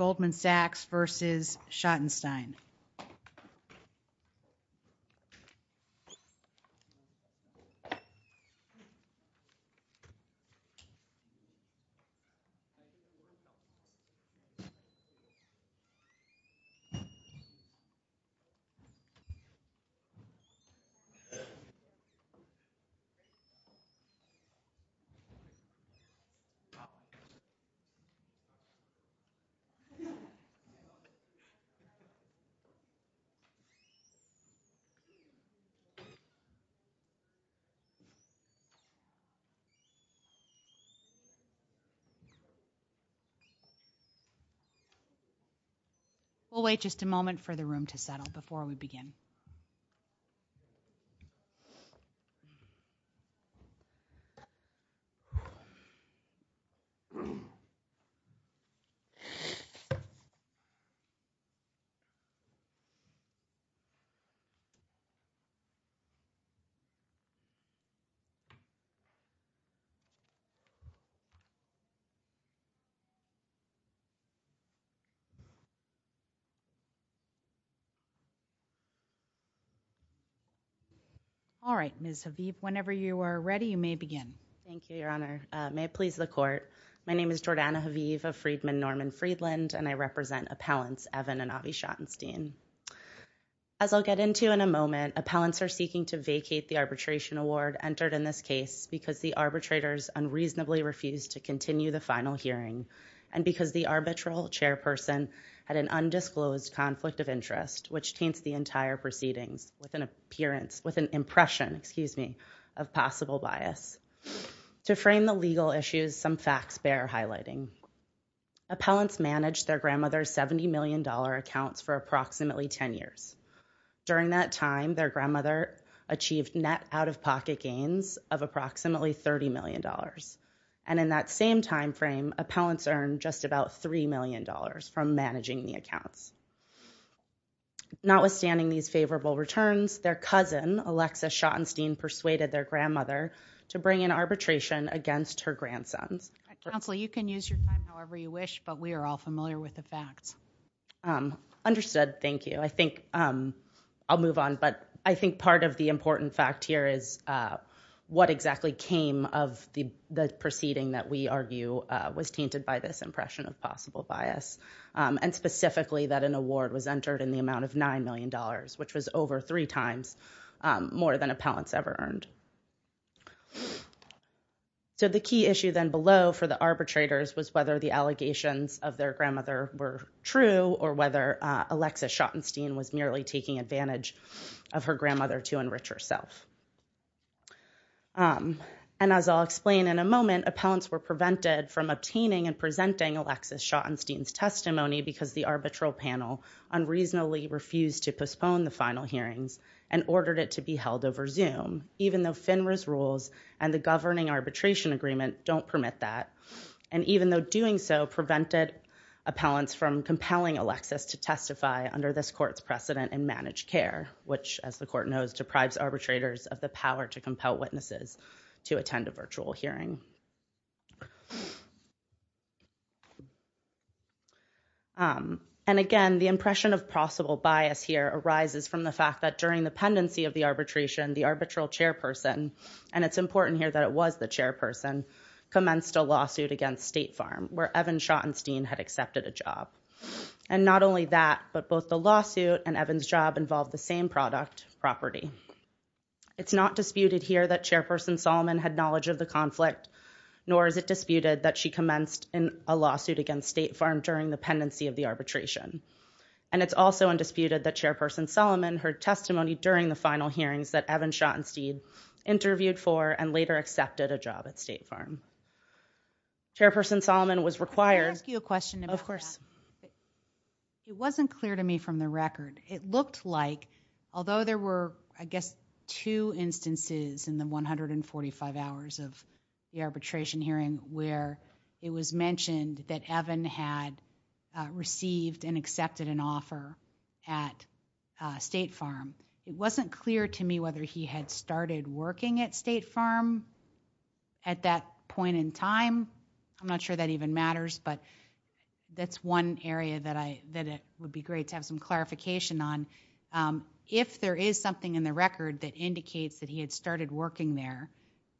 Goldman Sachs v. Schottenstein We'll wait just a moment for the room to settle before we begin. All right, Ms. Haviv, whenever you are ready, you may begin. Thank you, Your Honor. My name is Jordana Haviv of Friedman Norman Friedland, and I represent appellants Evan and Avi Schottenstein. As I'll get into in a moment, appellants are seeking to vacate the arbitration award entered in this case because the arbitrators unreasonably refused to continue the final hearing and because the arbitral chairperson had an undisclosed conflict of interest, which taints the entire proceedings with an impression of possible bias. To frame the legal issues, some facts bear highlighting. Appellants managed their grandmother's $70 million accounts for approximately 10 years. During that time, their grandmother achieved net out-of-pocket gains of approximately $30 million. And in that same time frame, appellants earned just about $3 million from managing the accounts. Notwithstanding these favorable returns, their cousin, Alexis Schottenstein, persuaded their grandmother to bring in arbitration against her grandsons. Counsel, you can use your time however you wish, but we are all familiar with the facts. Understood. Thank you. I think I'll move on, but I think part of the important fact here is what exactly came of the proceeding that we argue was tainted by this impression of possible bias, and specifically that an award was entered in the amount of $9 million, which was over three times more than appellants ever earned. So the key issue then below for the arbitrators was whether the allegations of their grandmother were true or whether Alexis Schottenstein was merely taking advantage of her grandmother to enrich herself. And as I'll explain in a moment, appellants were prevented from obtaining and presenting Alexis Schottenstein's testimony because the arbitral panel unreasonably refused to postpone the final hearings and ordered it to be held over Zoom, even though FINRA's rules and the governing arbitration agreement don't permit that, and even though doing so prevented appellants from compelling Alexis to testify under this court's precedent in managed care, which, as the court knows, deprives arbitrators of the power to compel witnesses to attend a virtual hearing. And, again, the impression of possible bias here arises from the fact that during the pendency of the arbitration, the arbitral chairperson, and it's important here that it was the chairperson, commenced a lawsuit against State Farm, where Evan Schottenstein had accepted a job. And not only that, but both the lawsuit and Evan's job involved the same product, property. It's not disputed here that Chairperson Solomon had knowledge of the conflict, nor is it disputed that she commenced a lawsuit against State Farm during the pendency of the arbitration. And it's also undisputed that Chairperson Solomon heard testimony during the final hearings that Evan Schottenstein interviewed for and later accepted a job at State Farm. Chairperson Solomon was required- Can I ask you a question? Of course. It wasn't clear to me from the record. It looked like, although there were, I guess, two instances in the 145 hours of the arbitration hearing where it was mentioned that Evan had received and accepted an offer at State Farm, it wasn't clear to me whether he had started working at State Farm at that point in time. I'm not sure that even matters, but that's one area that it would be great to have some clarification on. If there is something in the record that indicates that he had started working there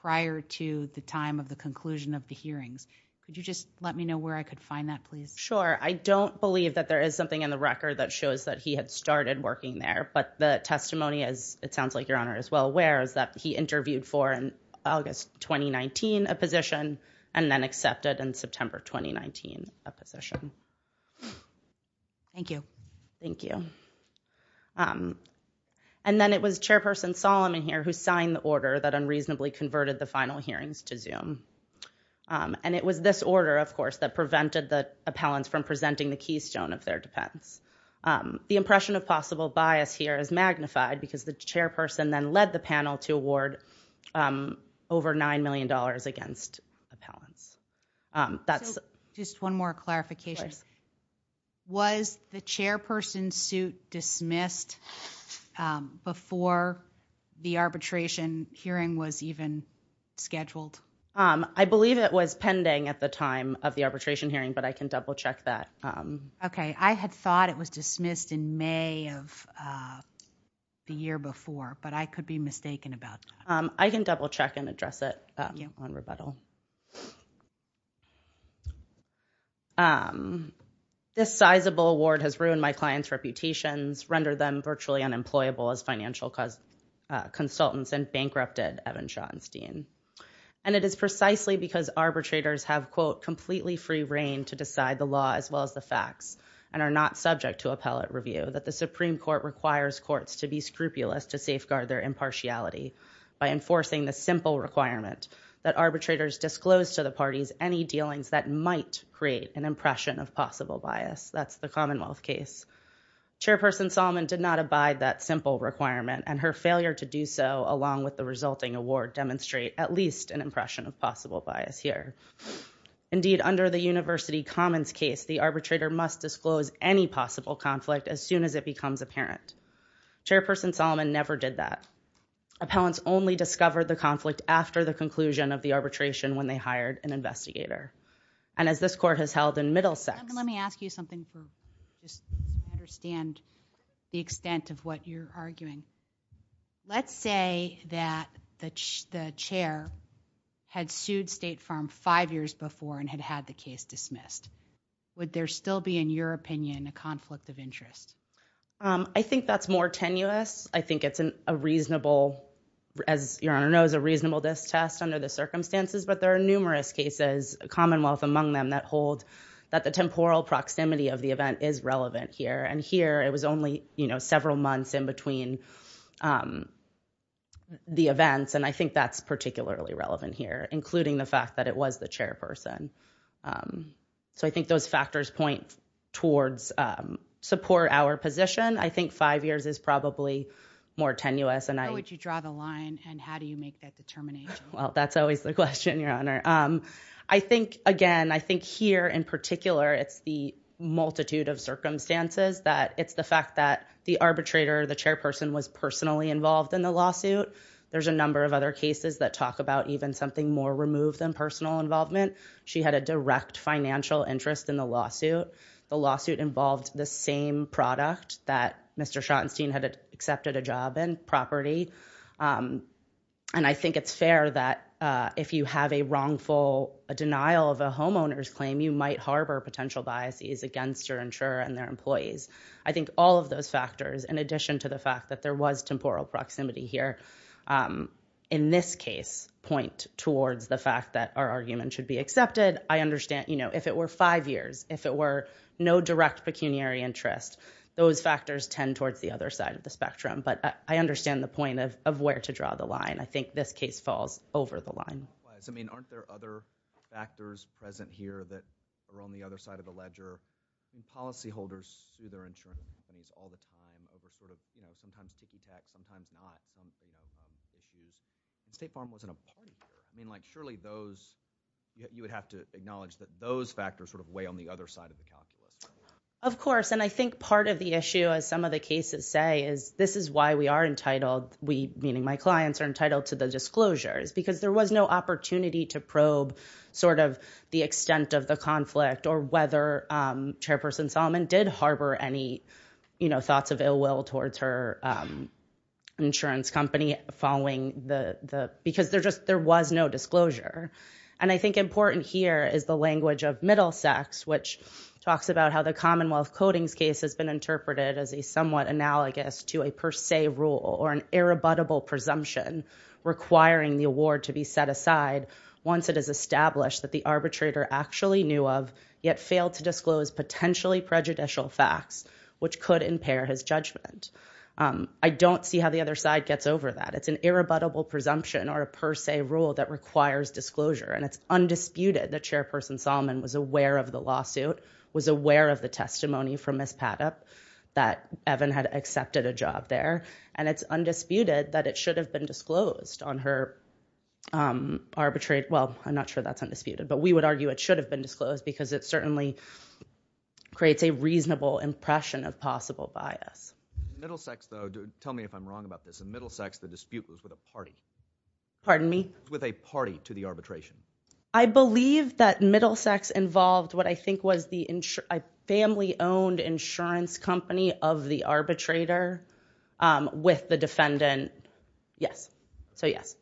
prior to the time of the conclusion of the hearings, could you just let me know where I could find that, please? Sure. I don't believe that there is something in the record that shows that he had started working there. But the testimony, as it sounds like Your Honor is well aware, is that he interviewed for in August 2019 a position and then accepted in September 2019 a position. Thank you. Thank you. And then it was Chairperson Solomon here who signed the order that unreasonably converted the final hearings to Zoom. And it was this order, of course, that prevented the appellants from presenting the keystone of their defense. The impression of possible bias here is magnified because the chairperson then led the panel to award over $9 million against appellants. That's just one more clarification. Was the chairperson's suit dismissed before the arbitration hearing was even scheduled? I believe it was pending at the time of the arbitration hearing, but I can double check that. Okay. I had thought it was dismissed in May of the year before, but I could be mistaken about that. I can double check and address it on rebuttal. This sizable award has ruined my clients' reputations, rendered them virtually unemployable as financial consultants, and bankrupted Evan Schottenstein. And it is precisely because arbitrators have, quote, completely free reign to decide the law as well as the facts and are not subject to appellate review that the Supreme Court requires courts to be scrupulous to safeguard their impartiality by enforcing the simple requirement that arbitrators disclose to the parties any dealings that might create an impression of possible bias. That's the Commonwealth case. Chairperson Salmon did not abide that simple requirement, and her failure to do so along with the resulting award demonstrate at least an impression of possible bias here. Indeed, under the University Commons case, the arbitrator must disclose any possible conflict as soon as it becomes apparent. Chairperson Salmon never did that. Appellants only discovered the conflict after the conclusion of the arbitration when they hired an investigator. And as this court has held in Middlesex- Let me ask you something just to understand the extent of what you're arguing. Let's say that the chair had sued State Farm five years before and had had the case dismissed. Would there still be, in your opinion, a conflict of interest? I think that's more tenuous. I think it's a reasonable, as your Honor knows, a reasonable distrust under the circumstances, but there are numerous cases, Commonwealth among them, that hold that the temporal proximity of the event is relevant here. And here, it was only several months in between the events, and I think that's particularly relevant here, including the fact that it was the chairperson. So I think those factors point towards support our position. I think five years is probably more tenuous, and I- How would you draw the line, and how do you make that determination? Well, that's always the question, your Honor. I think, again, I think here, in particular, it's the multitude of circumstances that it's the fact that the arbitrator, the chairperson, was personally involved in the lawsuit. There's a number of other cases that talk about even something more removed than personal involvement. She had a direct financial interest in the lawsuit. The lawsuit involved the same product that Mr. Schottenstein had accepted a job in, property. And I think it's fair that if you have a wrongful, a denial of a homeowner's claim, you might harbor potential biases against your insurer and their employees. I think all of those factors, in addition to the fact that there was temporal proximity here, in this case, point towards the fact that our argument should be accepted. I understand, you know, if it were five years, if it were no direct pecuniary interest, those factors tend towards the other side of the spectrum. But I understand the point of where to draw the line. I think this case falls over the line. I mean, aren't there other factors present here that are on the other side of the ledger? Policyholders sue their insurance companies all the time over sort of, you know, sometimes not something of issues. And State Farm wasn't a party here. I mean, like, surely those, you would have to acknowledge that those factors sort of weigh on the other side of the calculus. Of course. And I think part of the issue, as some of the cases say, is this is why we are entitled, we meaning my clients, are entitled to the disclosures. Because there was no opportunity to probe sort of the extent of the conflict or whether Chairperson Solomon did harbor any, you know, thoughts of ill will towards her insurance company following the, because there just, there was no disclosure. And I think important here is the language of Middlesex, which talks about how the Commonwealth Codings case has been interpreted as a somewhat analogous to a per se rule or an irrebuttable presumption requiring the award to be set aside once it is established that the arbitrator actually knew of, yet failed to disclose potentially prejudicial facts, which could impair his judgment. I don't see how the other side gets over that. It's an irrebuttable presumption or a per se rule that requires disclosure. And it's undisputed that Chairperson Solomon was aware of the lawsuit, was aware of the testimony from Ms. Patip, that Evan had accepted a job there. And it's undisputed that it should have been disclosed on her arbitrary, well, I'm not sure that's undisputed, but we would argue it should have been disclosed because it certainly creates a reasonable impression of possible bias. Middlesex, though, tell me if I'm wrong about this, in Middlesex, the dispute was with a party. Pardon me? With a party to the arbitration. I believe that Middlesex involved what I think was the family owned insurance company of the arbitrator with the defendant. Yes. So yes.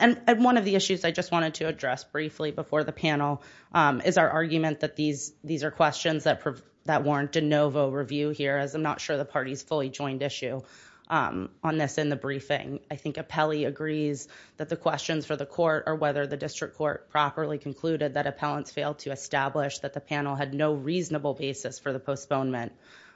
And one of the issues I just wanted to address briefly before the panel is our argument that these are questions that warrant a no vote review here, as I'm not sure the party's fully And I think appellee agrees that the questions for the court or whether the district court properly concluded that appellants failed to establish that the panel had no reasonable basis for the postponement.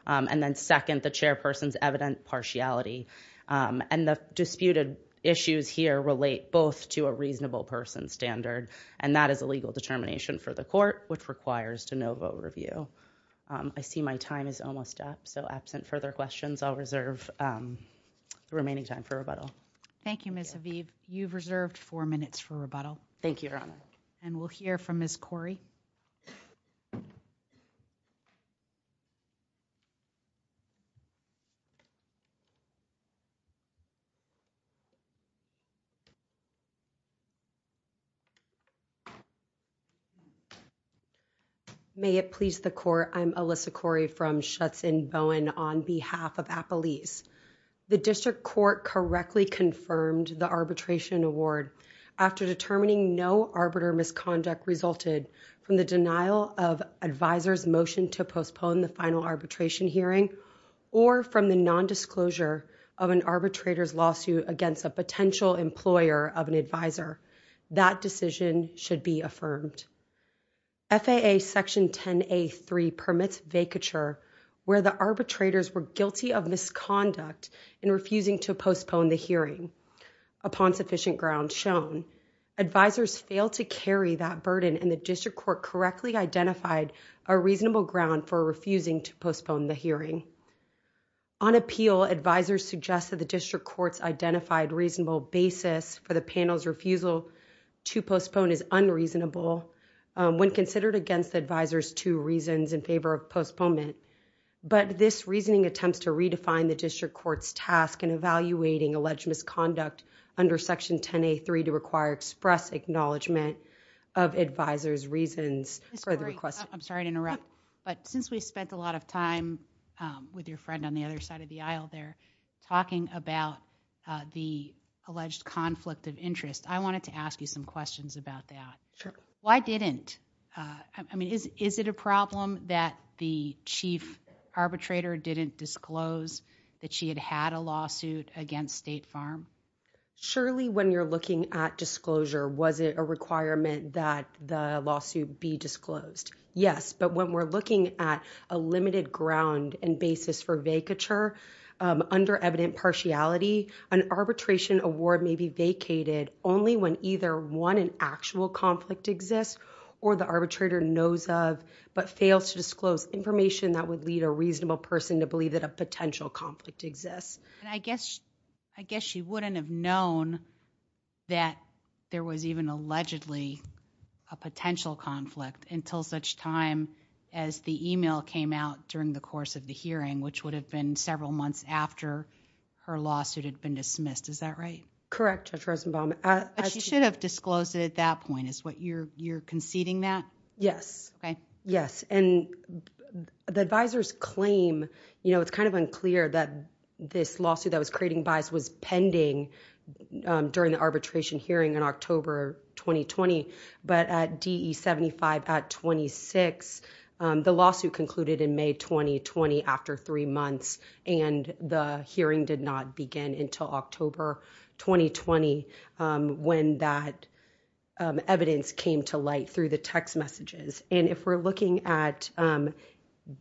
And then second, the chairperson's evident partiality. And the disputed issues here relate both to a reasonable person standard. And that is a legal determination for the court, which requires to no vote review. I see my time is almost up. So absent further questions, I'll reserve the remaining time for rebuttal. Thank you, Ms. Haviv. You've reserved four minutes for rebuttal. Thank you, Your Honor. And we'll hear from Ms. Corey. May it please the court. I'm Alyssa Corey from Schutzen Bowen on behalf of appellees. The district court correctly confirmed the arbitration award after determining no arbiter misconduct resulted from the denial of advisors motion to postpone the final arbitration hearing or from the nondisclosure of an arbitrator's lawsuit against a potential employer of an advisor. That decision should be affirmed. FAA Section 10A3 permits vacature where the arbitrators were guilty of misconduct in refusing to postpone the hearing. Upon sufficient ground shown, advisors failed to carry that burden and the district court correctly identified a reasonable ground for refusing to postpone the hearing. On appeal, advisors suggested the district court's identified reasonable basis for the panel's refusal to postpone is unreasonable. Um, when considered against advisors to reasons in favor of postponement, but this reasoning attempts to redefine the district court's task in evaluating alleged misconduct under Section 10A3 to require express acknowledgment of advisors reasons for the request. I'm sorry to interrupt, but since we spent a lot of time, um, with your friend on the other side of the aisle, they're talking about, uh, the alleged conflict of interest. I wanted to ask you some questions about that. Why didn't, uh, I mean, is, is it a problem that the chief arbitrator didn't disclose that she had had a lawsuit against State Farm? Surely, when you're looking at disclosure, was it a requirement that the lawsuit be disclosed? Yes, but when we're looking at a limited ground and basis for vacature, um, under evident impartiality, an arbitration award may be vacated only when either one in actual conflict exists or the arbitrator knows of, but fails to disclose information that would lead a reasonable person to believe that a potential conflict exists. And I guess, I guess she wouldn't have known that there was even allegedly a potential conflict until such time as the email came out during the course of the hearing, which her lawsuit had been dismissed. Is that right? Correct, Judge Rosenbaum. But she should have disclosed it at that point, is what you're, you're conceding that? Yes. Okay. Yes. And the advisor's claim, you know, it's kind of unclear that this lawsuit that was creating bias was pending, um, during the arbitration hearing in October 2020, but at DE75 at 26, um, the lawsuit concluded in May 2020 after three months, and the hearing did not begin until October 2020, um, when that, um, evidence came to light through the text messages. And if we're looking at, um,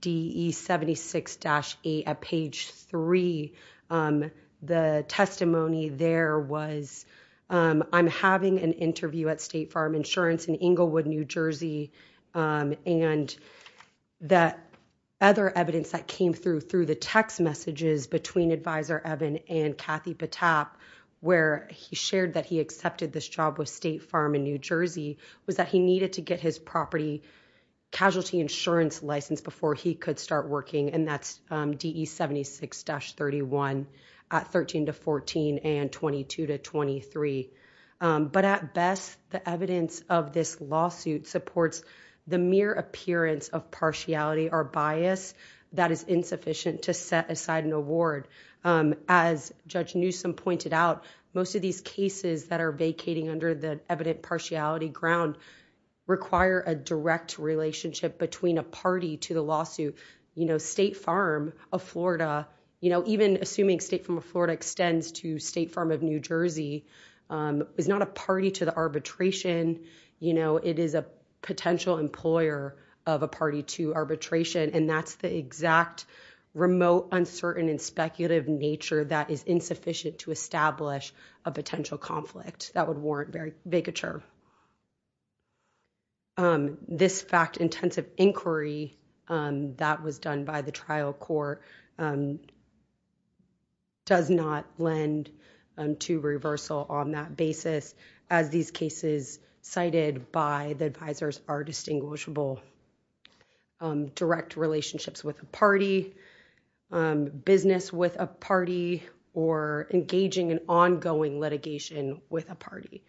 DE76-A at page three, um, the testimony there was, um, I'm having an interview at State Farm Insurance in Englewood, New Jersey, um, and that other evidence that came through, through the text messages between Advisor Evan and Kathy Patap, where he shared that he accepted this job with State Farm in New Jersey, was that he needed to get his property casualty insurance license before he could start working, and that's, um, DE76-31 at 13 to 14 and 22 to 23. Um, but at best, the evidence of this lawsuit supports the mere appearance of partiality or bias that is insufficient to set aside an award. Um, as Judge Newsom pointed out, most of these cases that are vacating under the evident partiality ground require a direct relationship between a party to the lawsuit. You know, State Farm of Florida, you know, even assuming State Farm of Florida extends to State Farm of New Jersey, um, is not a party to the arbitration, you know, it is a potential employer of a party to arbitration, and that's the exact remote, uncertain, and speculative nature that is insufficient to establish a potential conflict that would warrant bigotry. Um, this fact-intensive inquiry, um, that was done by the trial court, um, does not lend, um, to reversal on that basis, as these cases cited by the advisors are distinguishable. Um, direct relationships with a party, um, business with a party, or engaging in ongoing litigation with a party.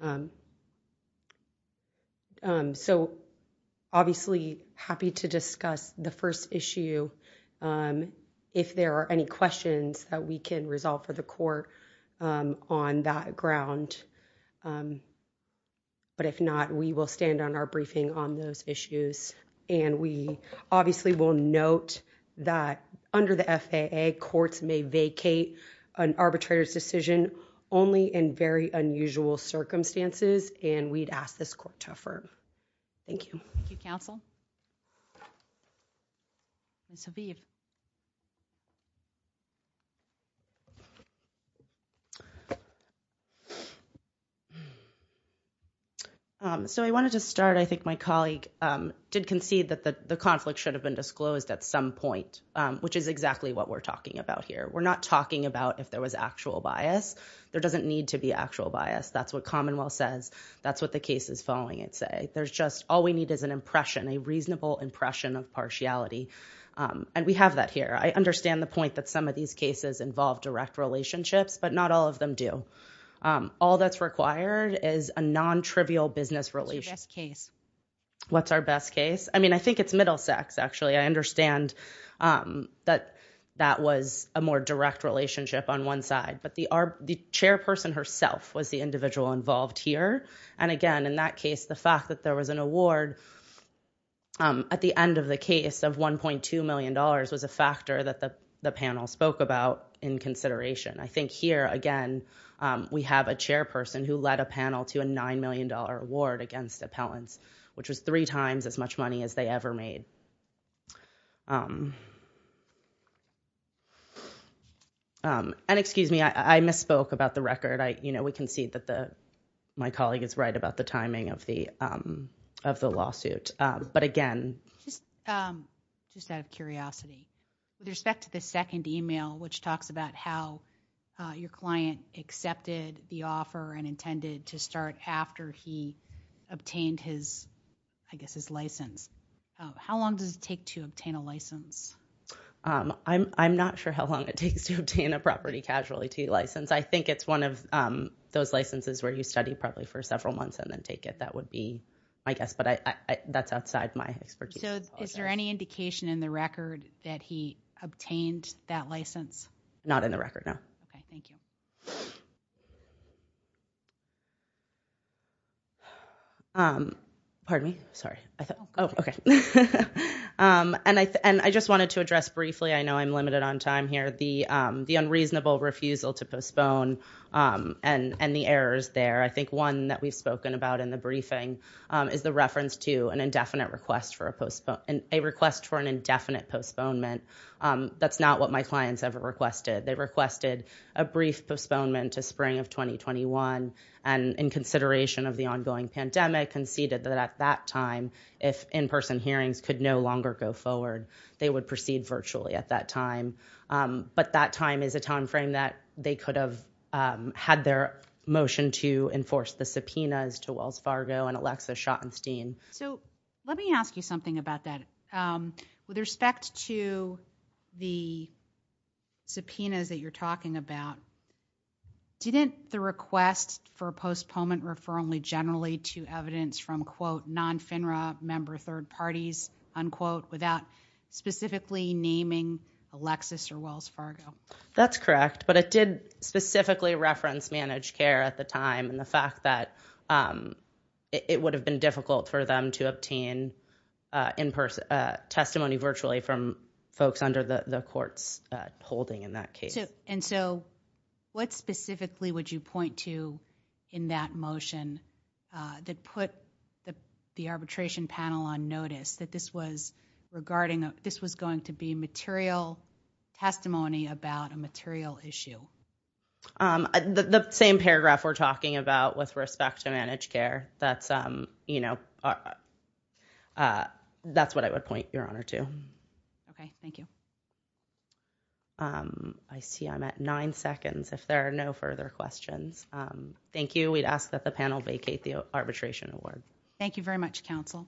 Um, um, so, obviously, happy to discuss the first issue, um, if there are any questions that we can resolve for the court, um, on that ground, um, but if not, we will stand on our briefing on those issues, and we, obviously, will note that under the FAA, courts may vacate an arbitrator's decision only in very unusual circumstances, and we'd ask this court to affirm. Thank you. Thank you, counsel. Ms. Haviv. Um, so, I wanted to start, I think my colleague, um, did concede that the, the conflict should have been disclosed at some point, um, which is exactly what we're talking about here. We're not talking about if there was actual bias. There doesn't need to be actual bias. That's what commonwealth says. That's what the cases following it say. There's just, all we need is an impression, a reasonable impression of partiality, um, and we have that here. I understand the point that some of these cases involve direct relationships, but not all of them do. Um, all that's required is a non-trivial business relation. What's your best case? What's our best case? I mean, I think it's Middlesex, actually. I understand, um, that, that was a more direct relationship on one side, but the, our, the chairperson herself was the individual involved here, and again, in that case, the fact that there was an award, um, at the end of the case of $1.2 million was a factor that the, the panel spoke about in consideration. I think here, again, um, we have a chairperson who led a panel to a $9 million award against appellants, which was three times as much money as they ever made. Um, um, and excuse me, I, I misspoke about the record. I, you know, we can see that the, my colleague is right about the timing of the, um, of the lawsuit. Um, but again. Just, um, just out of curiosity, with respect to the second email, which talks about how, uh, your client accepted the offer and intended to start after he obtained his, I guess his license, how long does it take to obtain a license? Um, I'm, I'm not sure how long it takes to obtain a property casualty license. I think it's one of, um, those licenses where you study probably for several months and then take it. That would be, I guess, but I, I, I, that's outside my expertise. So, is there any indication in the record that he obtained that license? Not in the record, no. Okay. Thank you. Um, pardon me. Sorry. I thought, oh, okay. Um, and I, and I just wanted to address briefly, I know I'm limited on time here, the, um, the unreasonable refusal to postpone, um, and, and the errors there. I think one that we've spoken about in the briefing, um, is the reference to an indefinite request for a postpone, a request for an indefinite postponement. Um, that's not what my clients ever requested. They requested a brief postponement to spring of 2021 and in consideration of the ongoing pandemic conceded that at that time, if in-person hearings could no longer go forward, they would proceed virtually at that time. Um, but that time is a timeframe that they could have, um, had their motion to enforce the subpoenas to Wells Fargo and Alexa Schottenstein. So let me ask you something about that. Um, with respect to the subpoenas that you're talking about, didn't the request for a postponement refer only generally to evidence from quote non-FNRA member third parties, unquote, without specifically naming Alexis or Wells Fargo? That's correct. But it did specifically reference managed care at the time and the fact that, um, it would have been difficult for them to obtain, uh, in person, uh, testimony virtually from folks under the courts, uh, holding in that case. And so what specifically would you point to in that motion, uh, that put the, the arbitration panel on notice that this was regarding, uh, this was going to be material testimony about a material issue? Um, the, the same paragraph we're talking about with respect to managed care, that's, um, you know, uh, uh, that's what I would point your honor to. Okay. Thank you. Um, I see I'm at nine seconds. If there are no further questions, um, thank you. We'd ask that the panel vacate the arbitration award. Thank you very much, counsel.